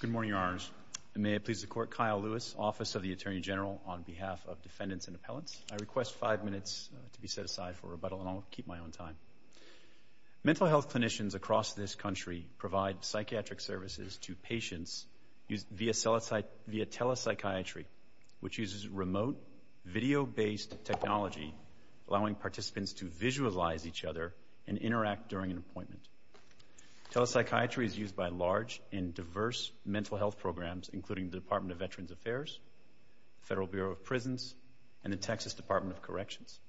Good morning, Your Honors. May it please the Court, Kyle Lewis, Office of the Attorney General, on behalf of defendants and appellants. I request five minutes to be set aside for rebuttal, and I'll keep my own time. Mental health clinicians across this country provide psychiatric services to patients via telepsychiatry, which uses remote, video-based technology, allowing participants to visualize each other and interact during an appointment. Telepsychiatry is used by large and diverse mental health programs, including the Department of Veterans Affairs, the Federal Bureau of Prisons, and the Texas Department of Corrections.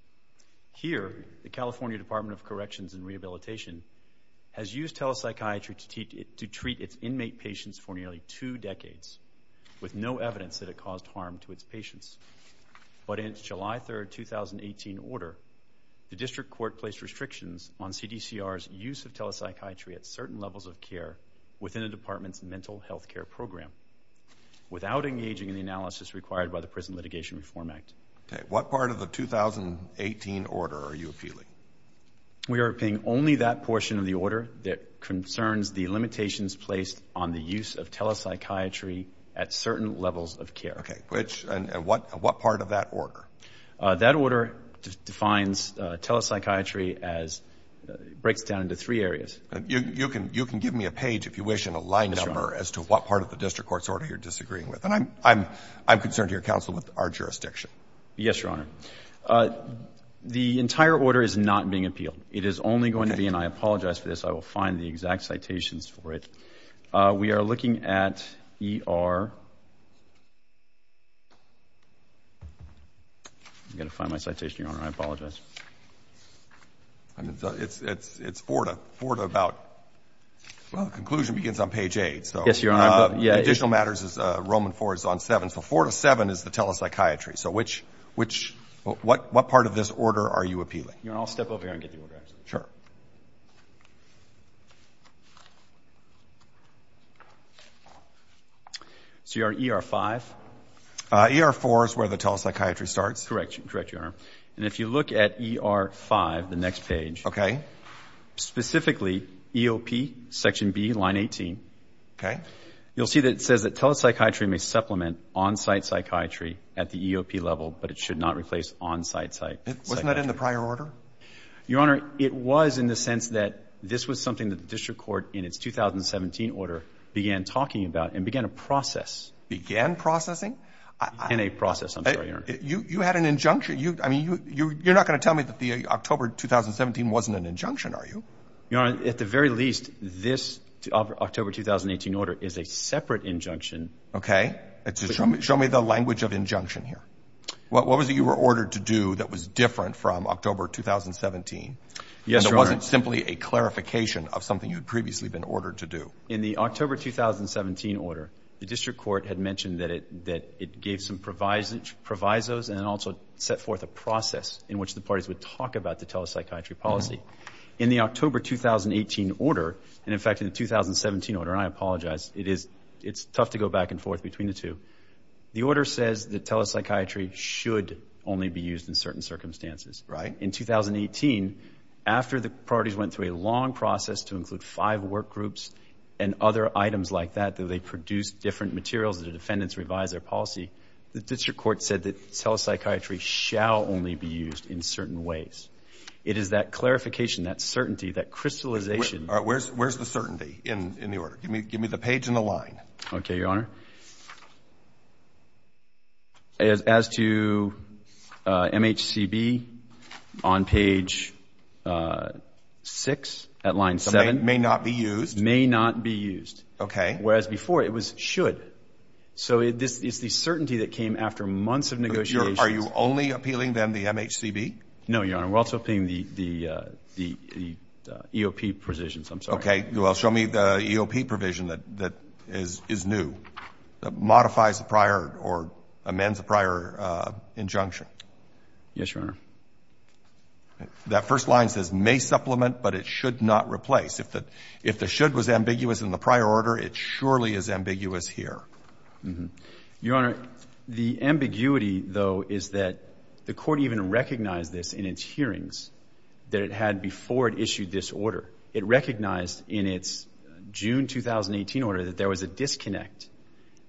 Here, the California Department of Corrections and Rehabilitation has used telepsychiatry to treat its inmate patients for nearly two decades, with no evidence that it caused harm to its patients. But in its July 3, 2018, order, the district court placed restrictions on CDCR's use of telepsychiatry at certain levels of care within a department's mental health care program, without engaging in the analysis required by the Prison Litigation Reform Act. What part of the 2018 order are you appealing? We are appealing only that portion of the order that concerns the limitations placed on the use of telepsychiatry at certain levels of care. Okay. Which and what part of that order? That order defines telepsychiatry as, breaks it down into three areas. You can give me a page, if you wish, and a line number as to what part of the district court's order you're disagreeing with. And I'm concerned to your counsel with our jurisdiction. Yes, Your Honor. The entire order is not being appealed. It is only going to be, and I apologize for this, I will find the exact citations for it. We are looking at ER, I'm going to find my citation, Your Honor, I apologize. It's four to about, well, the conclusion begins on page eight. Yes, Your Honor. The additional matters is Roman IV is on seven, so four to seven is the telepsychiatry. So which, what part of this order are you appealing? I'll step over here and get the order. Sure. So you're on ER-5? ER-4 is where the telepsychiatry starts. Correct, Your Honor. And if you look at ER-5, the next page, specifically EOP, section B, line 18, you'll see that says that telepsychiatry may supplement on-site psychiatry at the EOP level, but it should not replace on-site psychiatry. Wasn't that in the prior order? Your Honor, it was in the sense that this was something that the district court in its 2017 order began talking about and began a process. Began processing? Began a process, I'm sorry, Your Honor. You had an injunction. I mean, you're not going to tell me that the October 2017 wasn't an injunction, are you? Your Honor, at the very least, this October 2018 order is a separate injunction. Okay. Show me the language of injunction here. What was it you were ordered to do that was different from October 2017? Yes, Your Honor. And it wasn't simply a clarification of something you had previously been ordered to do? In the October 2017 order, the district court had mentioned that it gave some provisos and also set forth a process in which the parties would talk about the telepsychiatry policy. In the October 2018 order, and in fact in the 2017 order, and I apologize, it's tough to go back and forth between the two, the order says that telepsychiatry should only be used in certain circumstances. Right. In 2018, after the parties went through a long process to include five work groups and other items like that, that they produce different materials, the defendants revise their policy, the district court said that telepsychiatry shall only be used in certain ways. It is that clarification, that certainty, that crystallization. Where's the certainty in the order? Give me the page and the line. Okay, Your Honor. As to MHCB on page six at line seven. May not be used? May not be used. Okay. Whereas before, it was should. So it's the certainty that came after months of negotiations. Are you only appealing then the MHCB? No, Your Honor. We're also appealing the EOP provisions. I'm sorry. Okay. Well, show me the EOP provision that is new, that modifies the prior or amends the prior injunction. Yes, Your Honor. That first line says may supplement, but it should not replace. If the should was ambiguous in the prior order, it surely is ambiguous here. Your Honor, the ambiguity, though, is that the court even recognized this in its hearings that it had before it issued this order. It recognized in its June 2018 order that there was a disconnect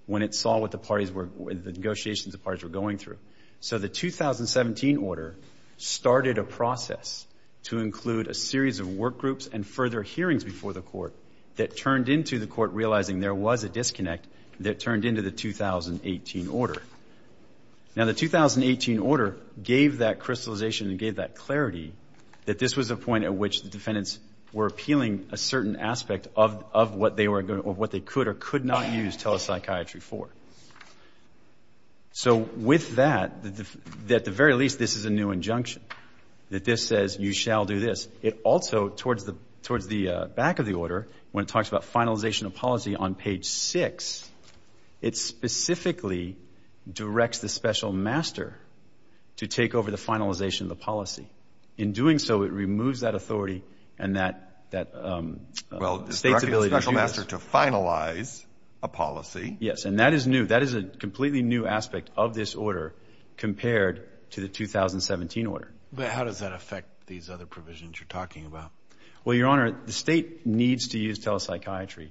when it saw what the parties were, the negotiations the parties were going through. So the 2017 order started a process to include a series of work groups and further hearings before the court that turned into the court realizing there was a disconnect that turned into the 2018 order. Now the 2018 order gave that crystallization and gave that clarity that this was a point at which the defendants were appealing a certain aspect of what they could or could not use telepsychiatry for. So with that, at the very least, this is a new injunction, that this says you shall do this. It also, towards the back of the order, when it talks about finalization of policy on page six, it specifically directs the special master to take over the finalization of the policy. In doing so, it removes that authority and that state's ability to use it. Well, it's directing the special master to finalize a policy. Yes, and that is new. That is a completely new aspect of this order compared to the 2017 order. But how does that affect these other provisions you're talking about? Well, Your Honor, the state needs to use telepsychiatry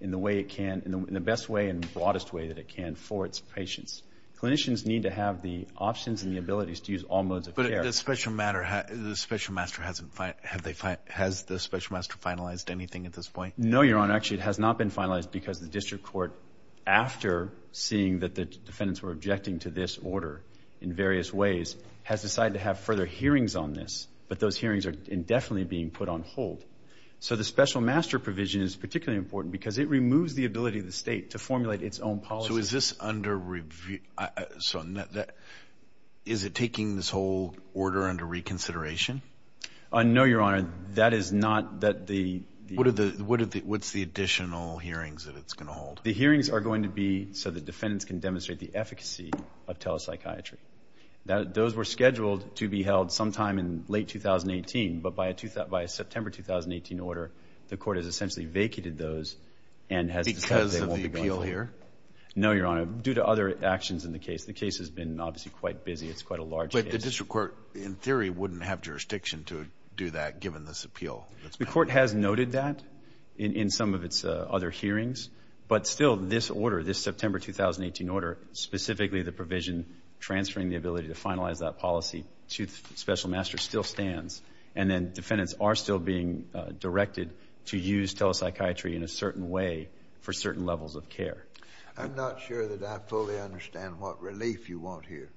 in the way it can, in the best way and broadest way that it can for its patients. Clinicians need to have the options and the abilities to use all modes of care. But the special master, has the special master finalized anything at this point? No, Your Honor. Actually, it has not been finalized because the district court, after seeing that the there are hearings on this. But those hearings are indefinitely being put on hold. So the special master provision is particularly important because it removes the ability of the state to formulate its own policy. So is this under review? Is it taking this whole order under reconsideration? No, Your Honor. That is not that the... What's the additional hearings that it's going to hold? The hearings are going to be so the defendants can demonstrate the efficacy of telepsychiatry. Those were scheduled to be held sometime in late 2018. But by a September 2018 order, the court has essentially vacated those and has decided they won't be going forward. Because of the appeal here? No, Your Honor. Due to other actions in the case. The case has been, obviously, quite busy. It's quite a large case. But the district court, in theory, wouldn't have jurisdiction to do that given this appeal. The court has noted that in some of its other hearings. But still, this order, this September 2018 order, specifically the provision transferring the ability to finalize that policy to the special master still stands. And then defendants are still being directed to use telepsychiatry in a certain way for certain levels of care. I'm not sure that I fully understand what relief you want here.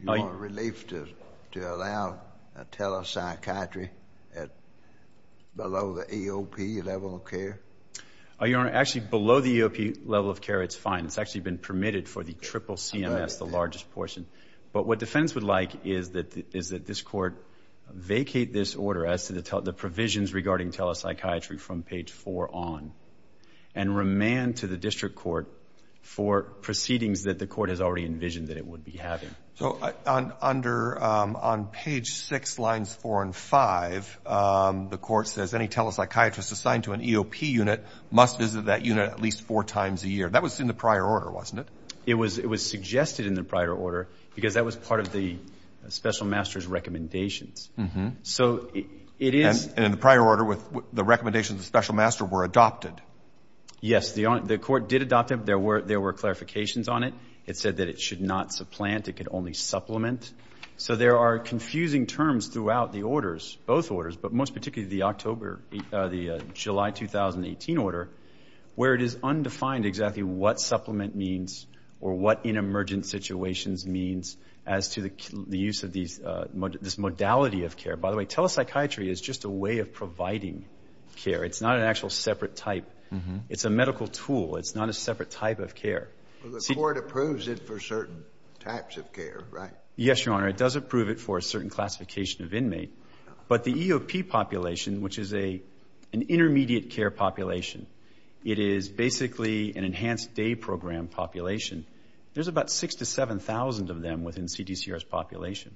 You want relief to allow telepsychiatry below the EOP level of care? Your Honor, actually below the EOP level of care, it's fine. It's actually been permitted for the triple CMS, the largest portion. But what defendants would like is that this court vacate this order as to the provisions regarding telepsychiatry from page 4 on. And remand to the district court for proceedings that the court has already envisioned that it would be having. So, under, on page 6, lines 4 and 5, the court says any telepsychiatrist assigned to an EOP unit must visit that unit at least four times a year. That was in the prior order, wasn't it? It was suggested in the prior order because that was part of the special master's recommendations. So, it is. And in the prior order, the recommendations of the special master were adopted. Yes. The court did adopt them. There were clarifications on it. It said that it should not supplant, it could only supplement. So there are confusing terms throughout the orders, both orders. But most particularly the October, the July 2018 order, where it is undefined exactly what supplement means or what in emergent situations means as to the use of these, this modality of care. By the way, telepsychiatry is just a way of providing care. It's not an actual separate type. It's a medical tool. It's not a separate type of care. Well, the court approves it for certain types of care, right? Yes, Your Honor. It does approve it for a certain classification of inmate. But the EOP population, which is an intermediate care population, it is basically an enhanced day program population. There's about 6,000 to 7,000 of them within CDCR's population.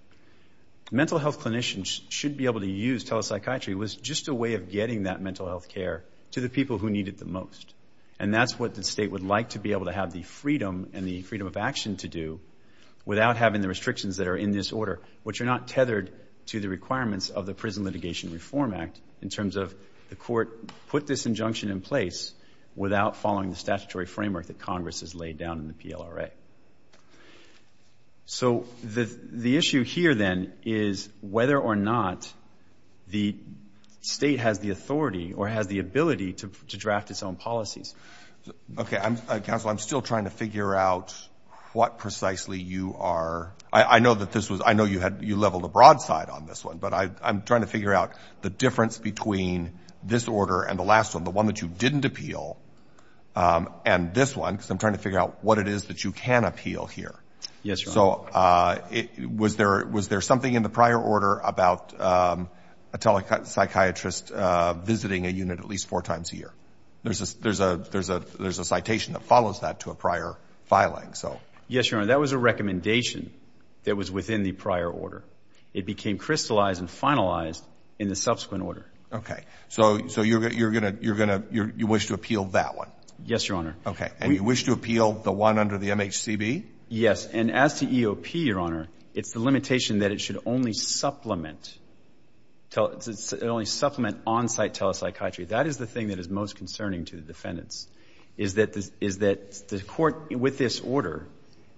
Mental health clinicians should be able to use telepsychiatry. It was just a way of getting that mental health care to the people who need it the most. And that's what the state would like to be able to have the freedom and the freedom of action to do without having the restrictions that are in this order, which are not tethered to the requirements of the Prison Litigation Reform Act in terms of the court put this injunction in place without following the statutory framework that Congress has laid down in the PLRA. So the issue here then is whether or not the state has the authority or has the ability to draft its own policies. Okay. Counsel, I'm still trying to figure out what precisely you are. I know that this was, I know you had, you leveled a broadside on this one, but I'm trying to figure out the difference between this order and the last one, the one that you didn't appeal and this one, because I'm trying to figure out what it is that you can appeal here. Yes, Your Honor. So was there something in the prior order about a telepsychiatrist visiting a unit at least four times a year? There's a citation that follows that to a prior filing. Yes, Your Honor. That was a recommendation that was within the prior order. It became crystallized and finalized in the subsequent order. Okay. So you're going to, you're going to, you wish to appeal that one? Yes, Your Honor. Okay. And you wish to appeal the one under the MHCB? Yes. And as to EOP, Your Honor, it's the limitation that it should only supplement on-site telepsychiatry. That is the thing that is most concerning to the defendants, is that the court with this order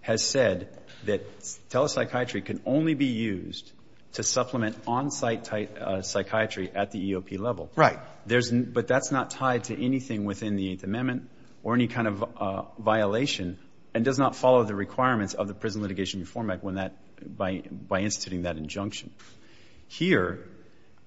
has said that telepsychiatry can only be used to supplement on-site psychiatry at the EOP level. Right. But that's not tied to anything within the Eighth Amendment or any kind of violation and does not follow the requirements of the Prison Litigation Reform Act by instituting that injunction. Here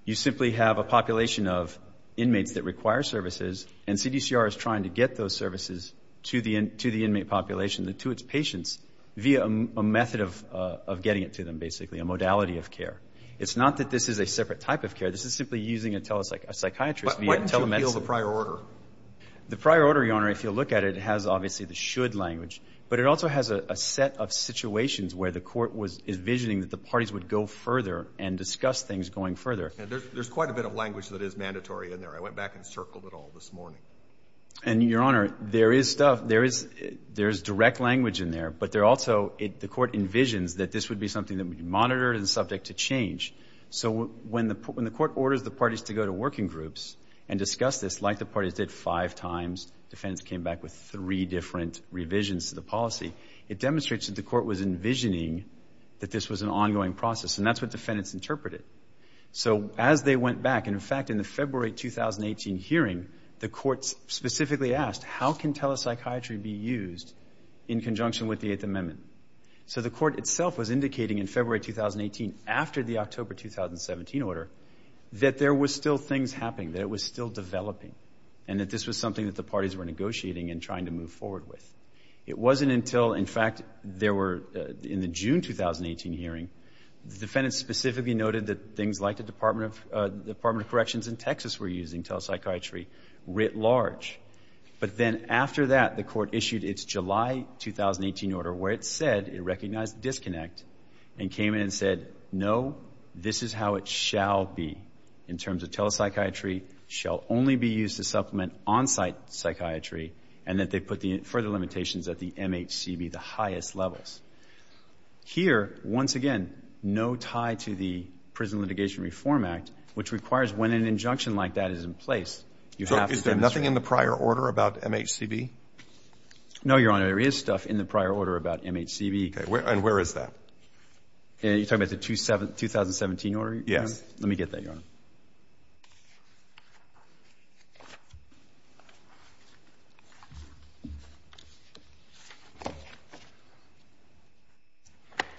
you simply have a population of inmates that require services and CDCR is trying to get those services to the inmate population, to its patients, via a method of getting it to them, basically, a modality of care. It's not that this is a separate type of care. This is simply using a psychiatrist via telemedicine. But why didn't you appeal the prior order? The prior order, Your Honor, if you look at it, has obviously the should language, but it also has a set of situations where the court was envisioning that the parties would go further and discuss things going further. There's quite a bit of language that is mandatory in there. I went back and circled it all this morning. And, Your Honor, there is stuff, there is direct language in there, but there also, the court envisions that this would be something that would be monitored and subject to change. So when the court orders the parties to go to working groups and discuss this, like the parties did five times, defendants came back with three different revisions to the policy, it demonstrates that the court was envisioning that this was an ongoing process, and that's what defendants interpreted. So as they went back, in fact, in the February 2018 hearing, the court specifically asked, how can telepsychiatry be used in conjunction with the Eighth Amendment? So the court itself was indicating in February 2018, after the October 2017 order, that there were still things happening, that it was still developing, and that this was something that the parties were negotiating and trying to move forward with. It wasn't until, in fact, there were, in the June 2018 hearing, defendants specifically noted that things like the Department of Corrections in Texas were using telepsychiatry writ large. But then after that, the court issued its July 2018 order, where it said it recognized disconnect, and came in and said, no, this is how it shall be, in terms of telepsychiatry shall only be used to supplement on-site psychiatry, and that they put the further limitations at the MHCB, the highest levels. Here, once again, no tie to the Prison Litigation Reform Act, which requires when an injunction like that is in place, you have to demonstrate. So is there nothing in the prior order about MHCB? No, Your Honor. There is stuff in the prior order about MHCB. Okay. And where is that? Yes. Let me get that, Your Honor.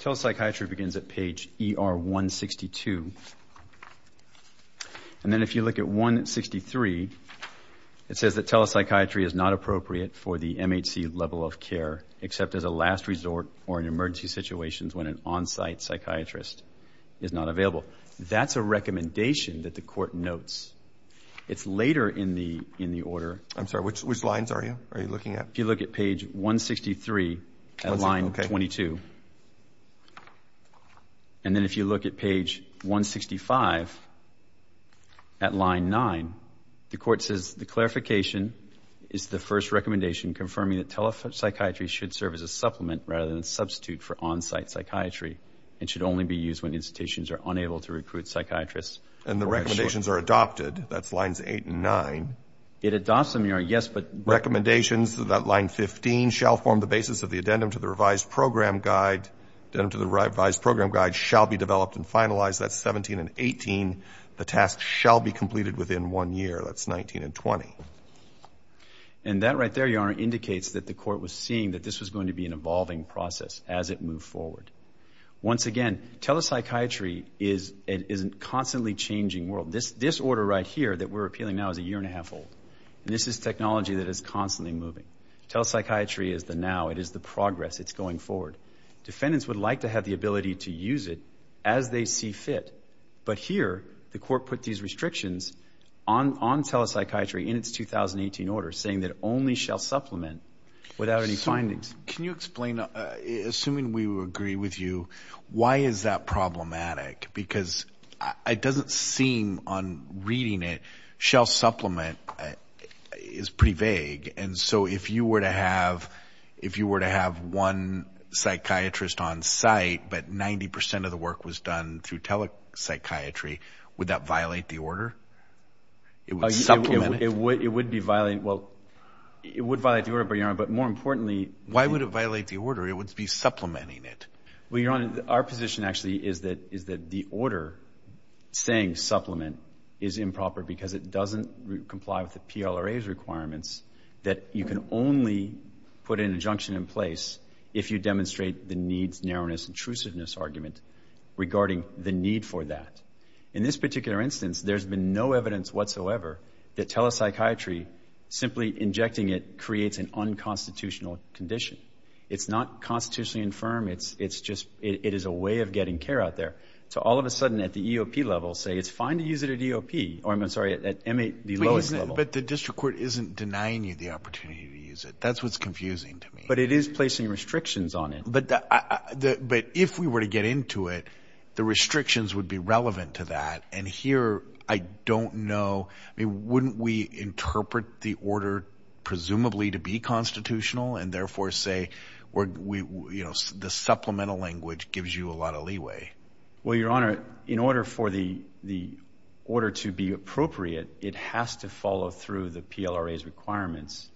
Telepsychiatry begins at page ER 162, and then if you look at 163, it says that telepsychiatry is not appropriate for the MHC level of care, except as a last resort or in emergency situations when an on-site psychiatrist is not available. That's a recommendation that the Court notes. It's later in the order. I'm sorry, which lines are you looking at? If you look at page 163 at line 22, and then if you look at page 165 at line 9, the Court says the clarification is the first recommendation confirming that telepsychiatry should serve as a supplement rather than substitute for on-site psychiatry, and should only be used when institutions are unable to recruit psychiatrists. And the recommendations are adopted. That's lines 8 and 9. It adopts them, Your Honor, yes, but... Recommendations that line 15 shall form the basis of the addendum to the revised program guide, addendum to the revised program guide shall be developed and finalized. That's 17 and 18. The task shall be completed within one year. That's 19 and 20. And that right there, Your Honor, indicates that the Court was seeing that this was going to be an evolving process as it moved forward. Once again, telepsychiatry is a constantly changing world. This order right here that we're appealing now is a year and a half old, and this is technology that is constantly moving. Telepsychiatry is the now. It is the progress. It's going forward. Defendants would like to have the ability to use it as they see fit. But here, the Court put these restrictions on telepsychiatry in its 2018 order, saying that it only shall supplement without any findings. Can you explain, assuming we would agree with you, why is that problematic? Because it doesn't seem on reading it, shall supplement is pretty vague. And so if you were to have one psychiatrist on site, but 90% of the work was done through telepsychiatry, would that violate the order? It would supplement it? It would be violating... Well, it would violate the order, Your Honor. But more importantly... Why would it violate the order? It would be supplementing it. Well, Your Honor, our position actually is that the order saying supplement is improper because it doesn't comply with the PLRA's requirements that you can only put an injunction in place if you demonstrate the needs, narrowness, intrusiveness argument regarding the need for that. In this particular instance, there's been no evidence whatsoever that telepsychiatry, simply injecting it creates an unconstitutional condition. It's not constitutionally infirm, it's just, it is a way of getting care out there. So all of a sudden at the EOP level, say it's fine to use it at EOP, or I'm sorry, at the lowest level. But the district court isn't denying you the opportunity to use it. That's what's confusing to me. But it is placing restrictions on it. But if we were to get into it, the restrictions would be relevant to that. And here, I don't know, wouldn't we interpret the order presumably to be constitutional and therefore say the supplemental language gives you a lot of leeway? Well, Your Honor, in order for the order to be appropriate, it has to follow through the PLRA's requirements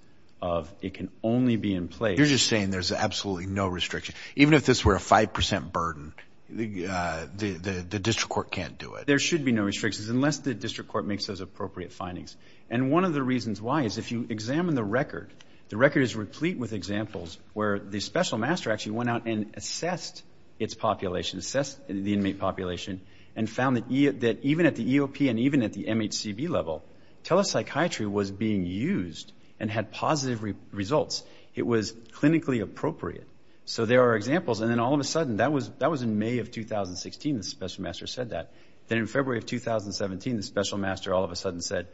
of it can only be in place. You're just saying there's absolutely no restriction. Even if this were a 5% burden, the district court can't do it. There should be no restrictions unless the district court makes those appropriate findings. And one of the reasons why is if you examine the record, the record is replete with examples where the special master actually went out and assessed its population, assessed the inmate population, and found that even at the EOP and even at the MHCB level, telepsychiatry was being used and had positive results. It was clinically appropriate. So there are examples, and then all of a sudden, that was in May of 2016, the special master said that. Then in February of 2017, the special master all of a sudden said,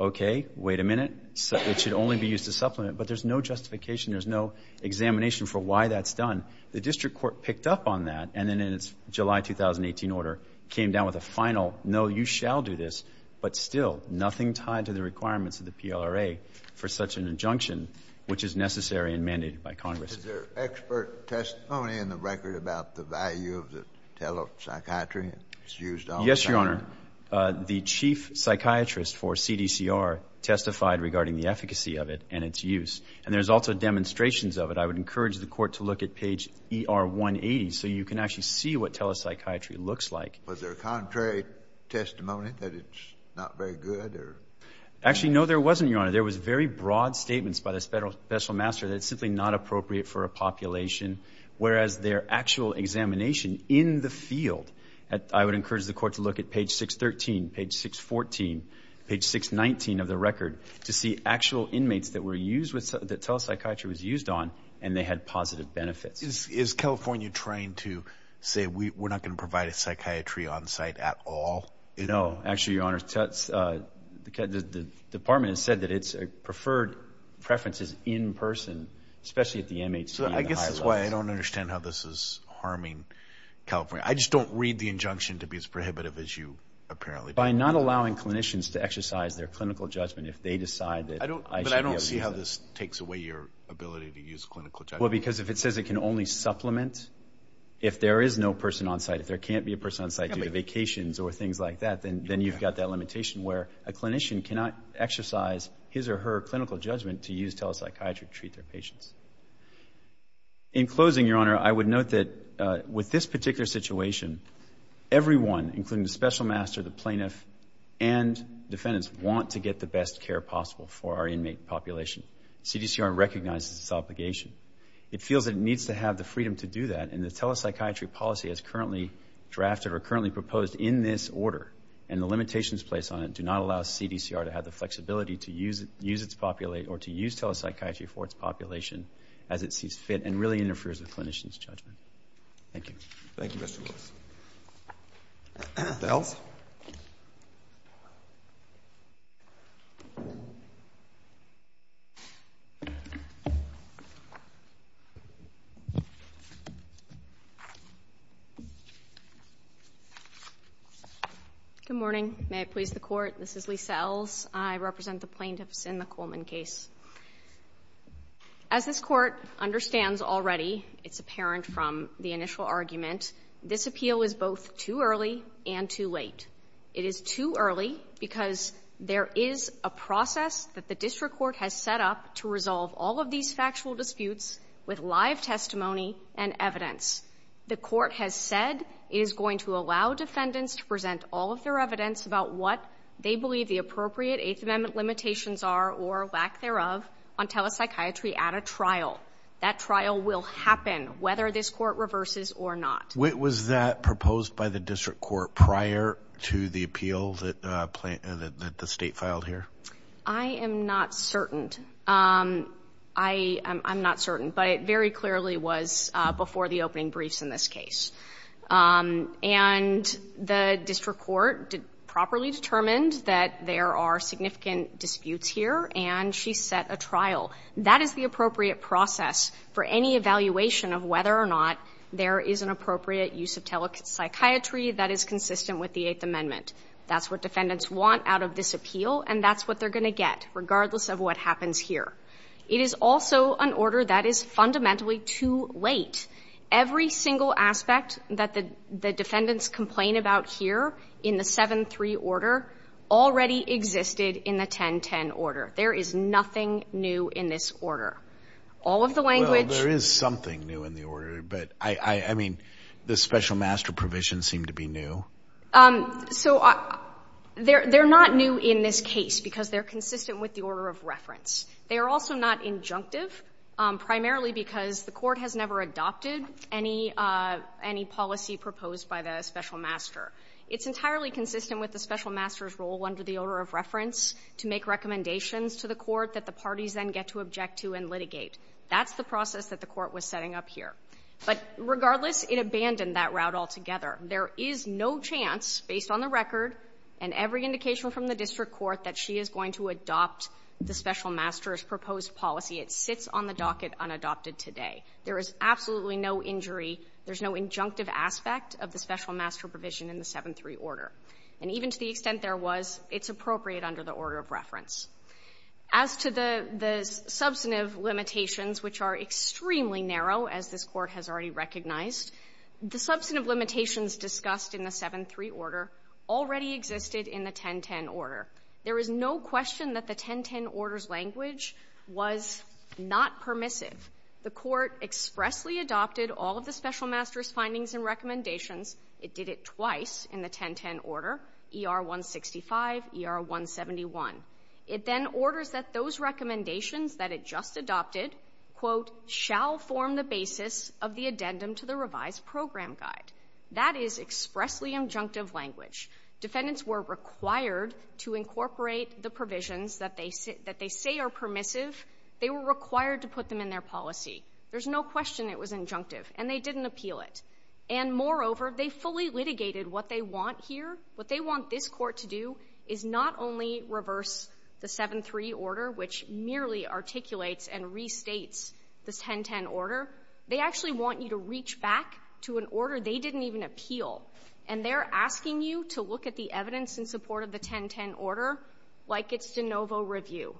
okay, wait a minute, it should only be used to supplement, but there's no justification, there's no examination for why that's done. The district court picked up on that, and then in its July 2018 order came down with a final, no, you shall do this, but still, nothing tied to the requirements of the PLRA for such an injunction, which is necessary and mandated by Congress. Was there expert testimony in the record about the value of the telepsychiatry that's used all of a sudden? Yes, Your Honor. The chief psychiatrist for CDCR testified regarding the efficacy of it and its use. And there's also demonstrations of it. I would encourage the court to look at page ER180 so you can actually see what telepsychiatry looks like. Was there contrary testimony that it's not very good or? Actually, no, there wasn't, Your Honor. There was very broad statements by the special master that it's simply not appropriate for a population, whereas their actual examination in the field, I would encourage the court to look at page 613, page 614, page 619 of the record to see actual inmates that telepsychiatry was used on and they had positive benefits. Is California trying to say we're not going to provide a psychiatry on site at all? No. Actually, Your Honor, the department has said that it's preferred preferences in person, especially at the MHC. So I guess that's why I don't understand how this is harming California. I just don't read the injunction to be as prohibitive as you apparently do. By not allowing clinicians to exercise their clinical judgment if they decide that I should be able to use it. But I don't see how this takes away your ability to use clinical judgment. Well, because if it says it can only supplement if there is no person on site, if there can't be a person on site due to vacations or things like that, then you've got that limitation where a clinician cannot exercise his or her clinical judgment to use telepsychiatry to treat their patients. In closing, Your Honor, I would note that with this particular situation, everyone, including the special master, the plaintiff, and defendants, want to get the best care possible for our inmate population. CDCR recognizes this obligation. It feels it needs to have the freedom to do that, and the telepsychiatry policy is currently drafted or currently proposed in this order. And the limitations placed on it do not allow CDCR to have the flexibility to use telepsychiatry for its population as it sees fit and really interferes with clinicians' judgment. Thank you. Thank you, Mr. Lewis. The House? Good morning. May it please the Court, this is Lisa Ells. I represent the plaintiffs in the Coleman case. As this Court understands already, it's apparent from the initial argument, this appeal is both too early and too late. It is too early because there is a process that the district court has set up to resolve all of these factual disputes with live testimony and evidence. The Court has said it is going to allow defendants to present all of their evidence about what they believe the appropriate Eighth Amendment limitations are or lack thereof on telepsychiatry at a trial. That trial will happen whether this Court reverses or not. Was that proposed by the district court prior to the appeal that the State filed here? I am not certain. I'm not certain, but it very clearly was before the opening briefs in this case. And the district court properly determined that there are significant disputes here, and she set a trial. That is the appropriate process for any evaluation of whether or not there is an appropriate use of telepsychiatry that is consistent with the Eighth Amendment. That's what defendants want out of this appeal, and that's what they're going to get, regardless of what happens here. It is also an order that is fundamentally too late. Every single aspect that the defendants complain about here in the 7-3 order already existed in the 10-10 order. There is nothing new in this order. All of the language ---- Alitoso, there is something new in the order, but I mean, the special master provision seemed to be new. So they're not new in this case because they're consistent with the order of reference. They are also not injunctive, primarily because the Court has never adopted any policy proposed by the special master. And even to the extent there was, it's appropriate under the order of the 7-3 order. As to the substantive limitations, which are extremely narrow, as this Court has already recognized, the substantive limitations discussed in the 7-3 order already existed in the 10-10 order. There is no question that the 10-10 order's language was not permissive. The Court expressly adopted all of the special master's findings and recommendations It did it twice in the 10-10 order, ER-165, ER-171. It then orders that those recommendations that it just adopted, quote, shall form the basis of the addendum to the revised program guide. That is expressly injunctive language. Defendants were required to incorporate the provisions that they say are permissive. They were required to put them in their policy. There's no question it was injunctive, and they didn't appeal it. And moreover, they fully litigated what they want here. What they want this Court to do is not only reverse the 7-3 order, which merely articulates and restates the 10-10 order. They actually want you to reach back to an order they didn't even appeal. And they're asking you to look at the evidence in support of the 10-10 order like it's de novo review.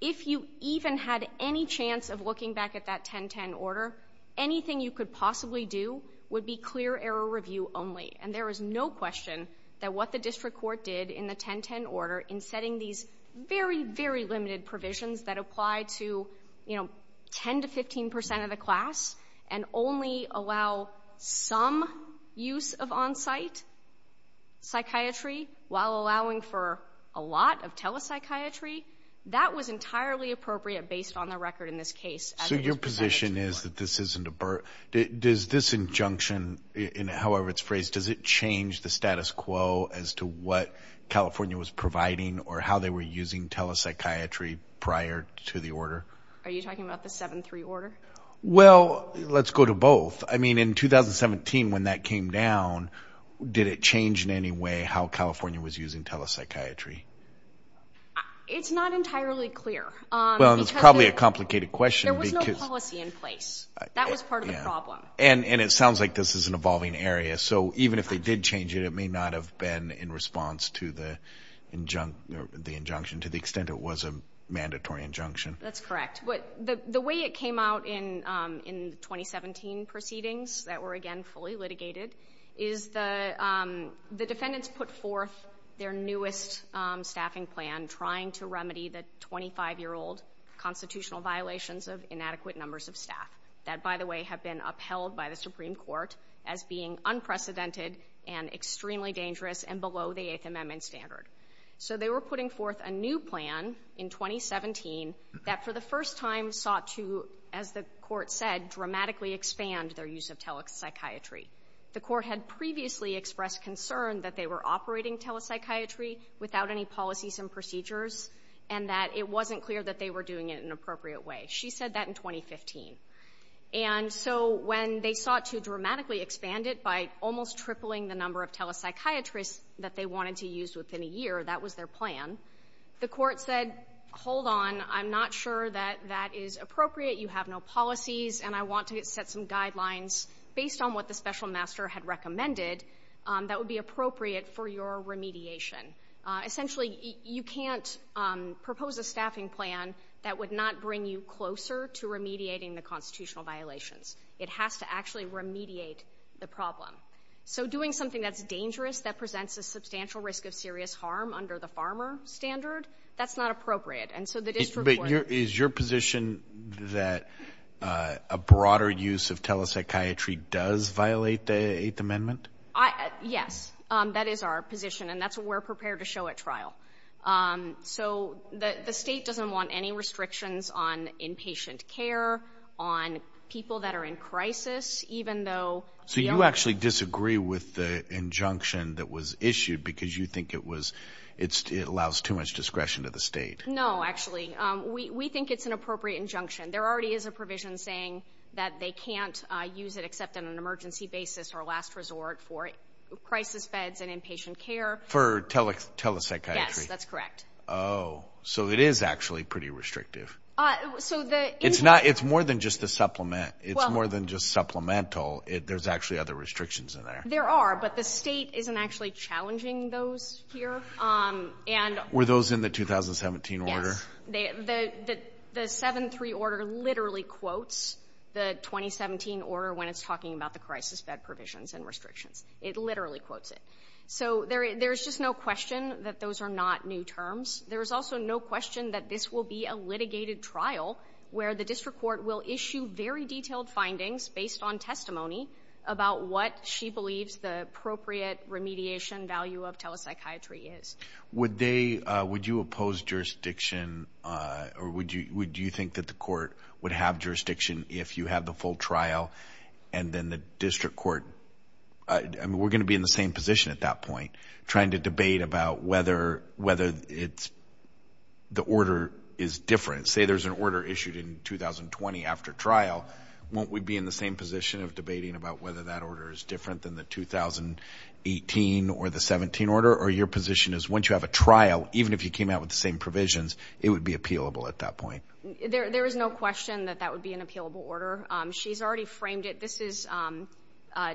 If you even had any chance of looking back at that 10-10 order, anything you could possibly do would be clear error review only. And there is no question that what the district court did in the 10-10 order in setting these very, very limited provisions that apply to 10 to 15% of the class and only allow some use of on-site psychiatry, while allowing for a lot of telepsychiatry, that was entirely appropriate based on the record in this case. So your position is that this isn't a... Does this injunction, in however it's phrased, does it change the status quo as to what California was providing or how they were using telepsychiatry prior to the order? Are you talking about the 7-3 order? Well, let's go to both. I mean, in 2017, when that came down, did it change in any way how California was using telepsychiatry? It's not entirely clear. Well, it's probably a complicated question because... There was no policy in place. That was part of the problem. And it sounds like this is an evolving area. So even if they did change it, it may not have been in response to the injunction to the extent it was a mandatory injunction. That's correct. But the way it came out in the 2017 proceedings that were, again, fully litigated is the defendants put forth their newest staffing plan trying to remedy the 25-year-old constitutional violations of inadequate numbers of staff that, by the way, have been upheld by the Supreme Court as being unprecedented and extremely dangerous and below the Eighth Amendment standard. So they were putting forth a new plan in 2017 that, for the first time, sought to, as the Court said, dramatically expand their use of telepsychiatry. The Court had previously expressed concern that they were operating telepsychiatry without any policies and procedures and that it wasn't clear that they were doing it in an appropriate way. She said that in 2015. And so when they sought to dramatically expand it by almost tripling the number of telepsychiatrists that they wanted to use within a year, that was their plan. The Court said, hold on, I'm not sure that that is appropriate. You have no policies. And I want to set some guidelines based on what the special master had recommended that would be appropriate for your remediation. Essentially, you can't propose a staffing plan that would not bring you closer to remediating the constitutional violations. It has to actually remediate the problem. So doing something that's dangerous, that presents a substantial risk of serious harm under the farmer standard, that's not appropriate. And so the district court- Is your position that a broader use of telepsychiatry does violate the Eighth Amendment? Yes, that is our position. And that's what we're prepared to show at trial. So the state doesn't want any restrictions on inpatient care, on people that are in crisis, even though- So you actually disagree with the injunction that was issued because you think it was, it allows too much discretion to the state. No, actually. We think it's an appropriate injunction. There already is a provision saying that they can't use it except on an emergency basis or last resort for crisis feds and inpatient care. For telepsychiatry? Yes, that's correct. Oh, so it is actually pretty restrictive. It's more than just a supplement. It's more than just supplemental. There's actually other restrictions in there. There are, but the state isn't actually challenging those here. Were those in the 2017 order? Yes. The 7-3 order literally quotes the 2017 order when it's talking about the crisis fed provisions and restrictions. It literally quotes it. So there's just no question that those are not new terms. There's also no question that this will be a litigated trial where the district court will issue very detailed findings based on testimony about what she believes the appropriate remediation value of telepsychiatry is. Would you oppose jurisdiction or would you think that the court would have jurisdiction if you have the full trial and then the district court... I mean, we're going to be in the same position at that point trying to debate about whether the order is different. Say there's an order issued in 2020 after trial, won't we be in the same position of debating about whether that order is different than the 2018 or the 17 order or your position is once you have a trial, even if you came out with the same provisions, it would be appealable at that point? There is no question that that would be an appealable order. She's already framed it. This is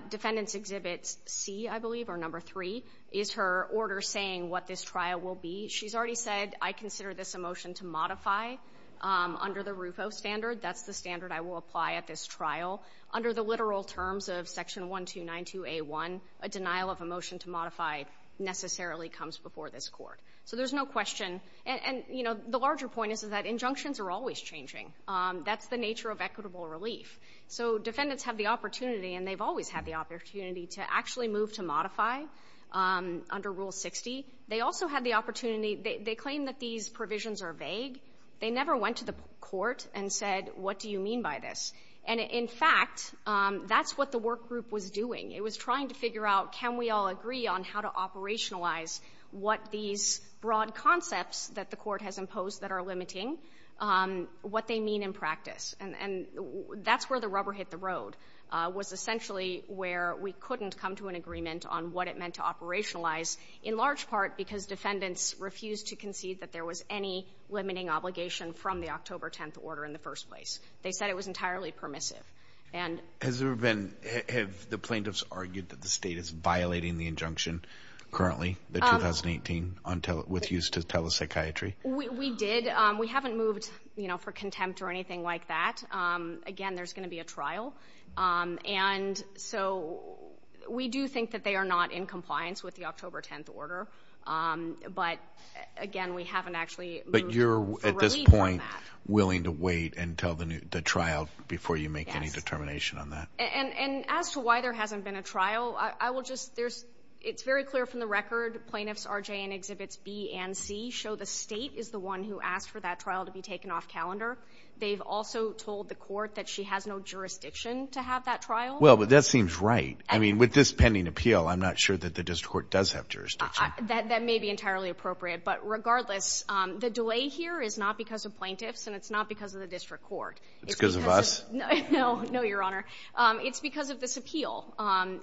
Defendant's Exhibit C, I believe, or number three, is her order saying what this trial will be. She's already said, I consider this a motion to modify under the RUFO standard. That's the standard I will apply at this trial. Under the literal terms of Section 1292A1, a denial of a motion to modify necessarily comes before this court. So there's no question. And, you know, the larger point is that injunctions are always changing. That's the nature of equitable relief. So defendants have the opportunity, and they've always had the opportunity, to actually move to modify under Rule 60. They also had the opportunity... they claim that these provisions are vague. They never went to the court and said, what do you mean by this? And in fact, that's what the work group was doing. It was trying to figure out, can we all agree on how to operationalize what these broad concepts that the court has imposed that are limiting, what they mean in practice. And that's where the rubber hit the road, was essentially where we couldn't come to an agreement on what it meant to operationalize, in large part because defendants refused to concede that there was any limiting obligation from the October 10th order in the first place. They said it was entirely permissive. Has there ever been... have the plaintiffs argued that the state is violating the injunction currently, the 2018, with use to tele-psychiatry? We did. We haven't moved, you know, for contempt or anything like that. Again, there's going to be a trial. And so we do think that they are not in compliance with the October 10th order. But again, we haven't actually moved the relief on that. But you're, at this point, willing to wait until the trial before you make any determination on that. And as to why there hasn't been a trial, I will just... there's... it's very clear from the record, plaintiffs R.J. and Exhibits B and C show the state is the one who asked for that trial to be taken off calendar. They've also told the court that she has no jurisdiction to have that trial. Well, but that seems right. I mean, with this pending appeal, I'm not sure that the district court does have jurisdiction. That may be entirely appropriate. But regardless, the delay here is not because of plaintiffs, and it's not because of the district court. It's because of us? No. No, Your Honor. It's because of this appeal.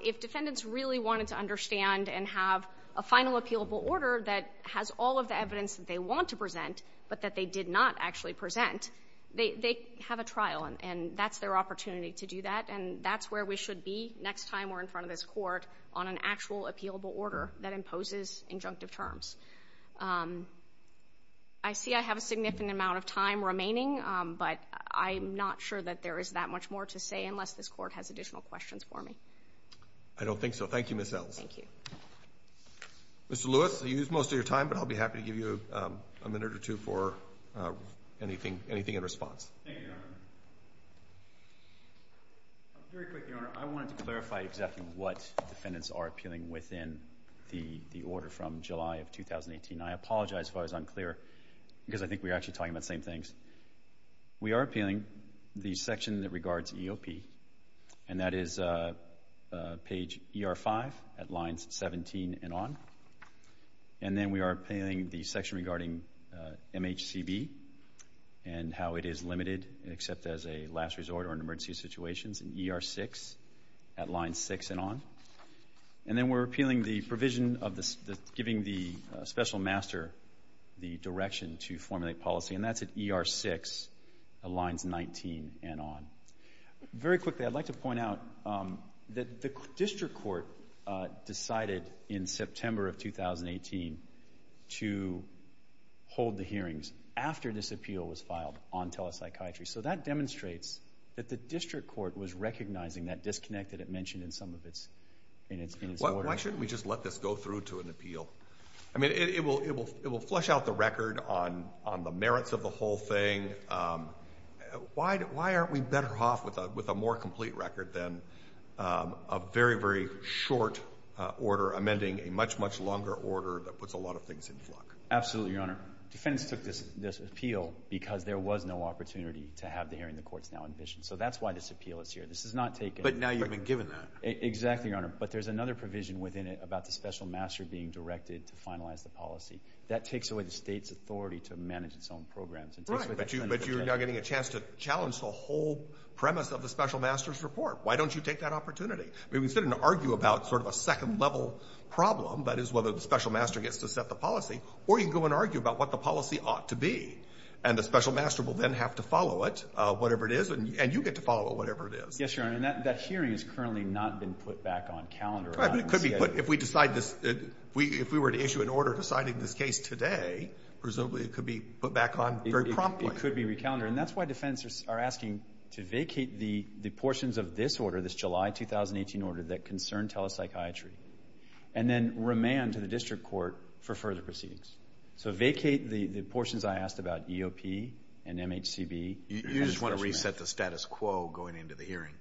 If defendants really wanted to understand and have a final appealable order that has all of the evidence that they want to present, but that they did not actually present, they have a trial, and that's their opportunity to do that. And that's where we should be next time we're in front of this court, on an actual appealable order that imposes injunctive terms. I see I have a significant amount of time remaining, but I'm not sure that there is that much more to say unless this court has additional questions for me. I don't think so. Thank you, Ms. Ells. Thank you. Mr. Lewis, you used most of your time, but I'll be happy to give you a minute or two for anything in response. Thank you, Your Honor. Very quick, Your Honor. I wanted to clarify exactly what defendants are appealing within the order from July of 2018. I apologize if I was unclear, because I think we're actually talking about the same things. We are appealing the section that regards EOP, and that is page ER5 at lines 17 and on. And then we are appealing the section regarding MHCB and how it is limited, except as a last resort or in emergency situations, in ER6 at lines 6 and on. And then we're appealing the provision of giving the special master the direction to formulate policy, and that's at ER6 at lines 19 and on. Very quickly, I'd like to point out that the district court decided in September of 2018 to hold the hearings after this appeal was filed on telepsychiatry. So that demonstrates that the district court was recognizing that disconnect that it mentioned in some of its orders. Why shouldn't we just let this go through to an appeal? I mean, it will flush out the record on the merits of the whole thing. Why aren't we better off with a more complete record than a very, very short order amending a much, much longer order that puts a lot of things in flux? Absolutely, Your Honor. Defendants took this appeal because there was no opportunity to have the hearing the court's now envisioned. So that's why this appeal is here. This is not taken— But now you've been given that. Exactly, Your Honor. But there's another provision within it about the special master being directed to finalize the policy. That takes away the state's authority to manage its own programs and takes away the defendant's authority. Right, but you're now getting a chance to challenge the whole premise of the special master's report. Why don't you take that opportunity? I mean, we sit and argue about sort of a second-level problem, that is, whether the special master gets to set the policy, or you can go and argue about what the policy ought to be. And the special master will then have to follow it, whatever it is, and you get to follow it, whatever it is. Yes, Your Honor. And that hearing has currently not been put back on calendar. Right, but it could be put—if we decide this—if we were to issue an order deciding this case today, presumably it could be put back on very promptly. It could be recalendered. And that's why defendants are asking to vacate the portions of this order, this July 2018 order, that concern telepsychiatry, and then remand to the district court for further proceedings. So, vacate the portions I asked about, EOP and MHCB, and the special master. You just want to reset the status quo going into the hearing.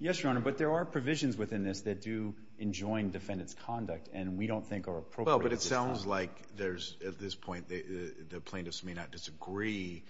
Yes, Your Honor, but there are provisions within this that do enjoin defendant's conduct, and we don't think are appropriate at this time. Well, but it sounds like there's—at this point, the plaintiffs may not disagree,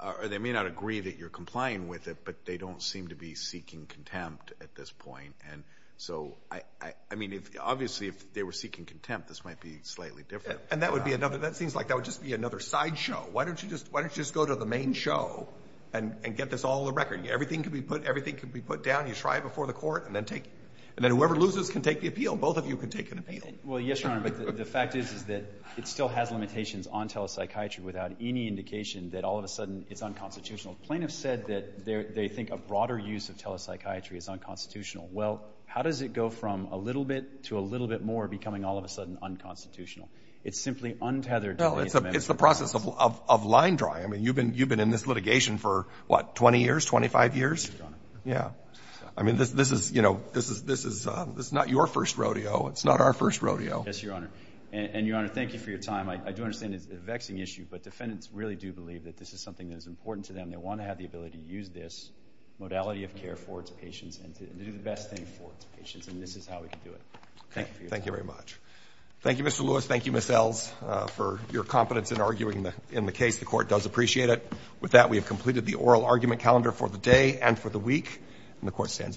or they may not agree that you're complying with it, but they don't seem to be seeking contempt at this point. And so, I mean, obviously, if they were seeking contempt, this might be slightly different. And that would be another—that seems like that would just be another sideshow. Why don't you just—why don't you just go to the main show and get this all on the record? Everything can be put—everything can be put down. You try it before the court, and then take—and then whoever loses can take the appeal. Both of you can take an appeal. Well, yes, Your Honor, but the fact is that it still has limitations on telepsychiatry without any indication that all of a sudden it's unconstitutional. Plaintiffs said that they think a broader use of telepsychiatry is unconstitutional. Well, how does it go from a little bit to a little bit more, becoming all of a sudden unconstitutional? It's simply untethered to these amendments. Well, it's the process of line drawing. I mean, you've been in this litigation for, what, 20 years, 25 years? Yes, Your Honor. Yeah. I mean, this is—you know, this is—this is not your first rodeo. It's not our first rodeo. Yes, Your Honor. And, Your Honor, thank you for your time. I do understand it's a vexing issue, but defendants really do believe that this is something that is important to them. And they want to have the ability to use this modality of care for its patients and to do the best thing for its patients. And this is how we can do it. Thank you for your time. Okay. Thank you very much. Thank you, Mr. Lewis. Thank you, Ms. Ells, for your competence in arguing in the case. The Court does appreciate it. With that, we have completed the oral argument calendar for the day and for the week, and the Court stands adjourned.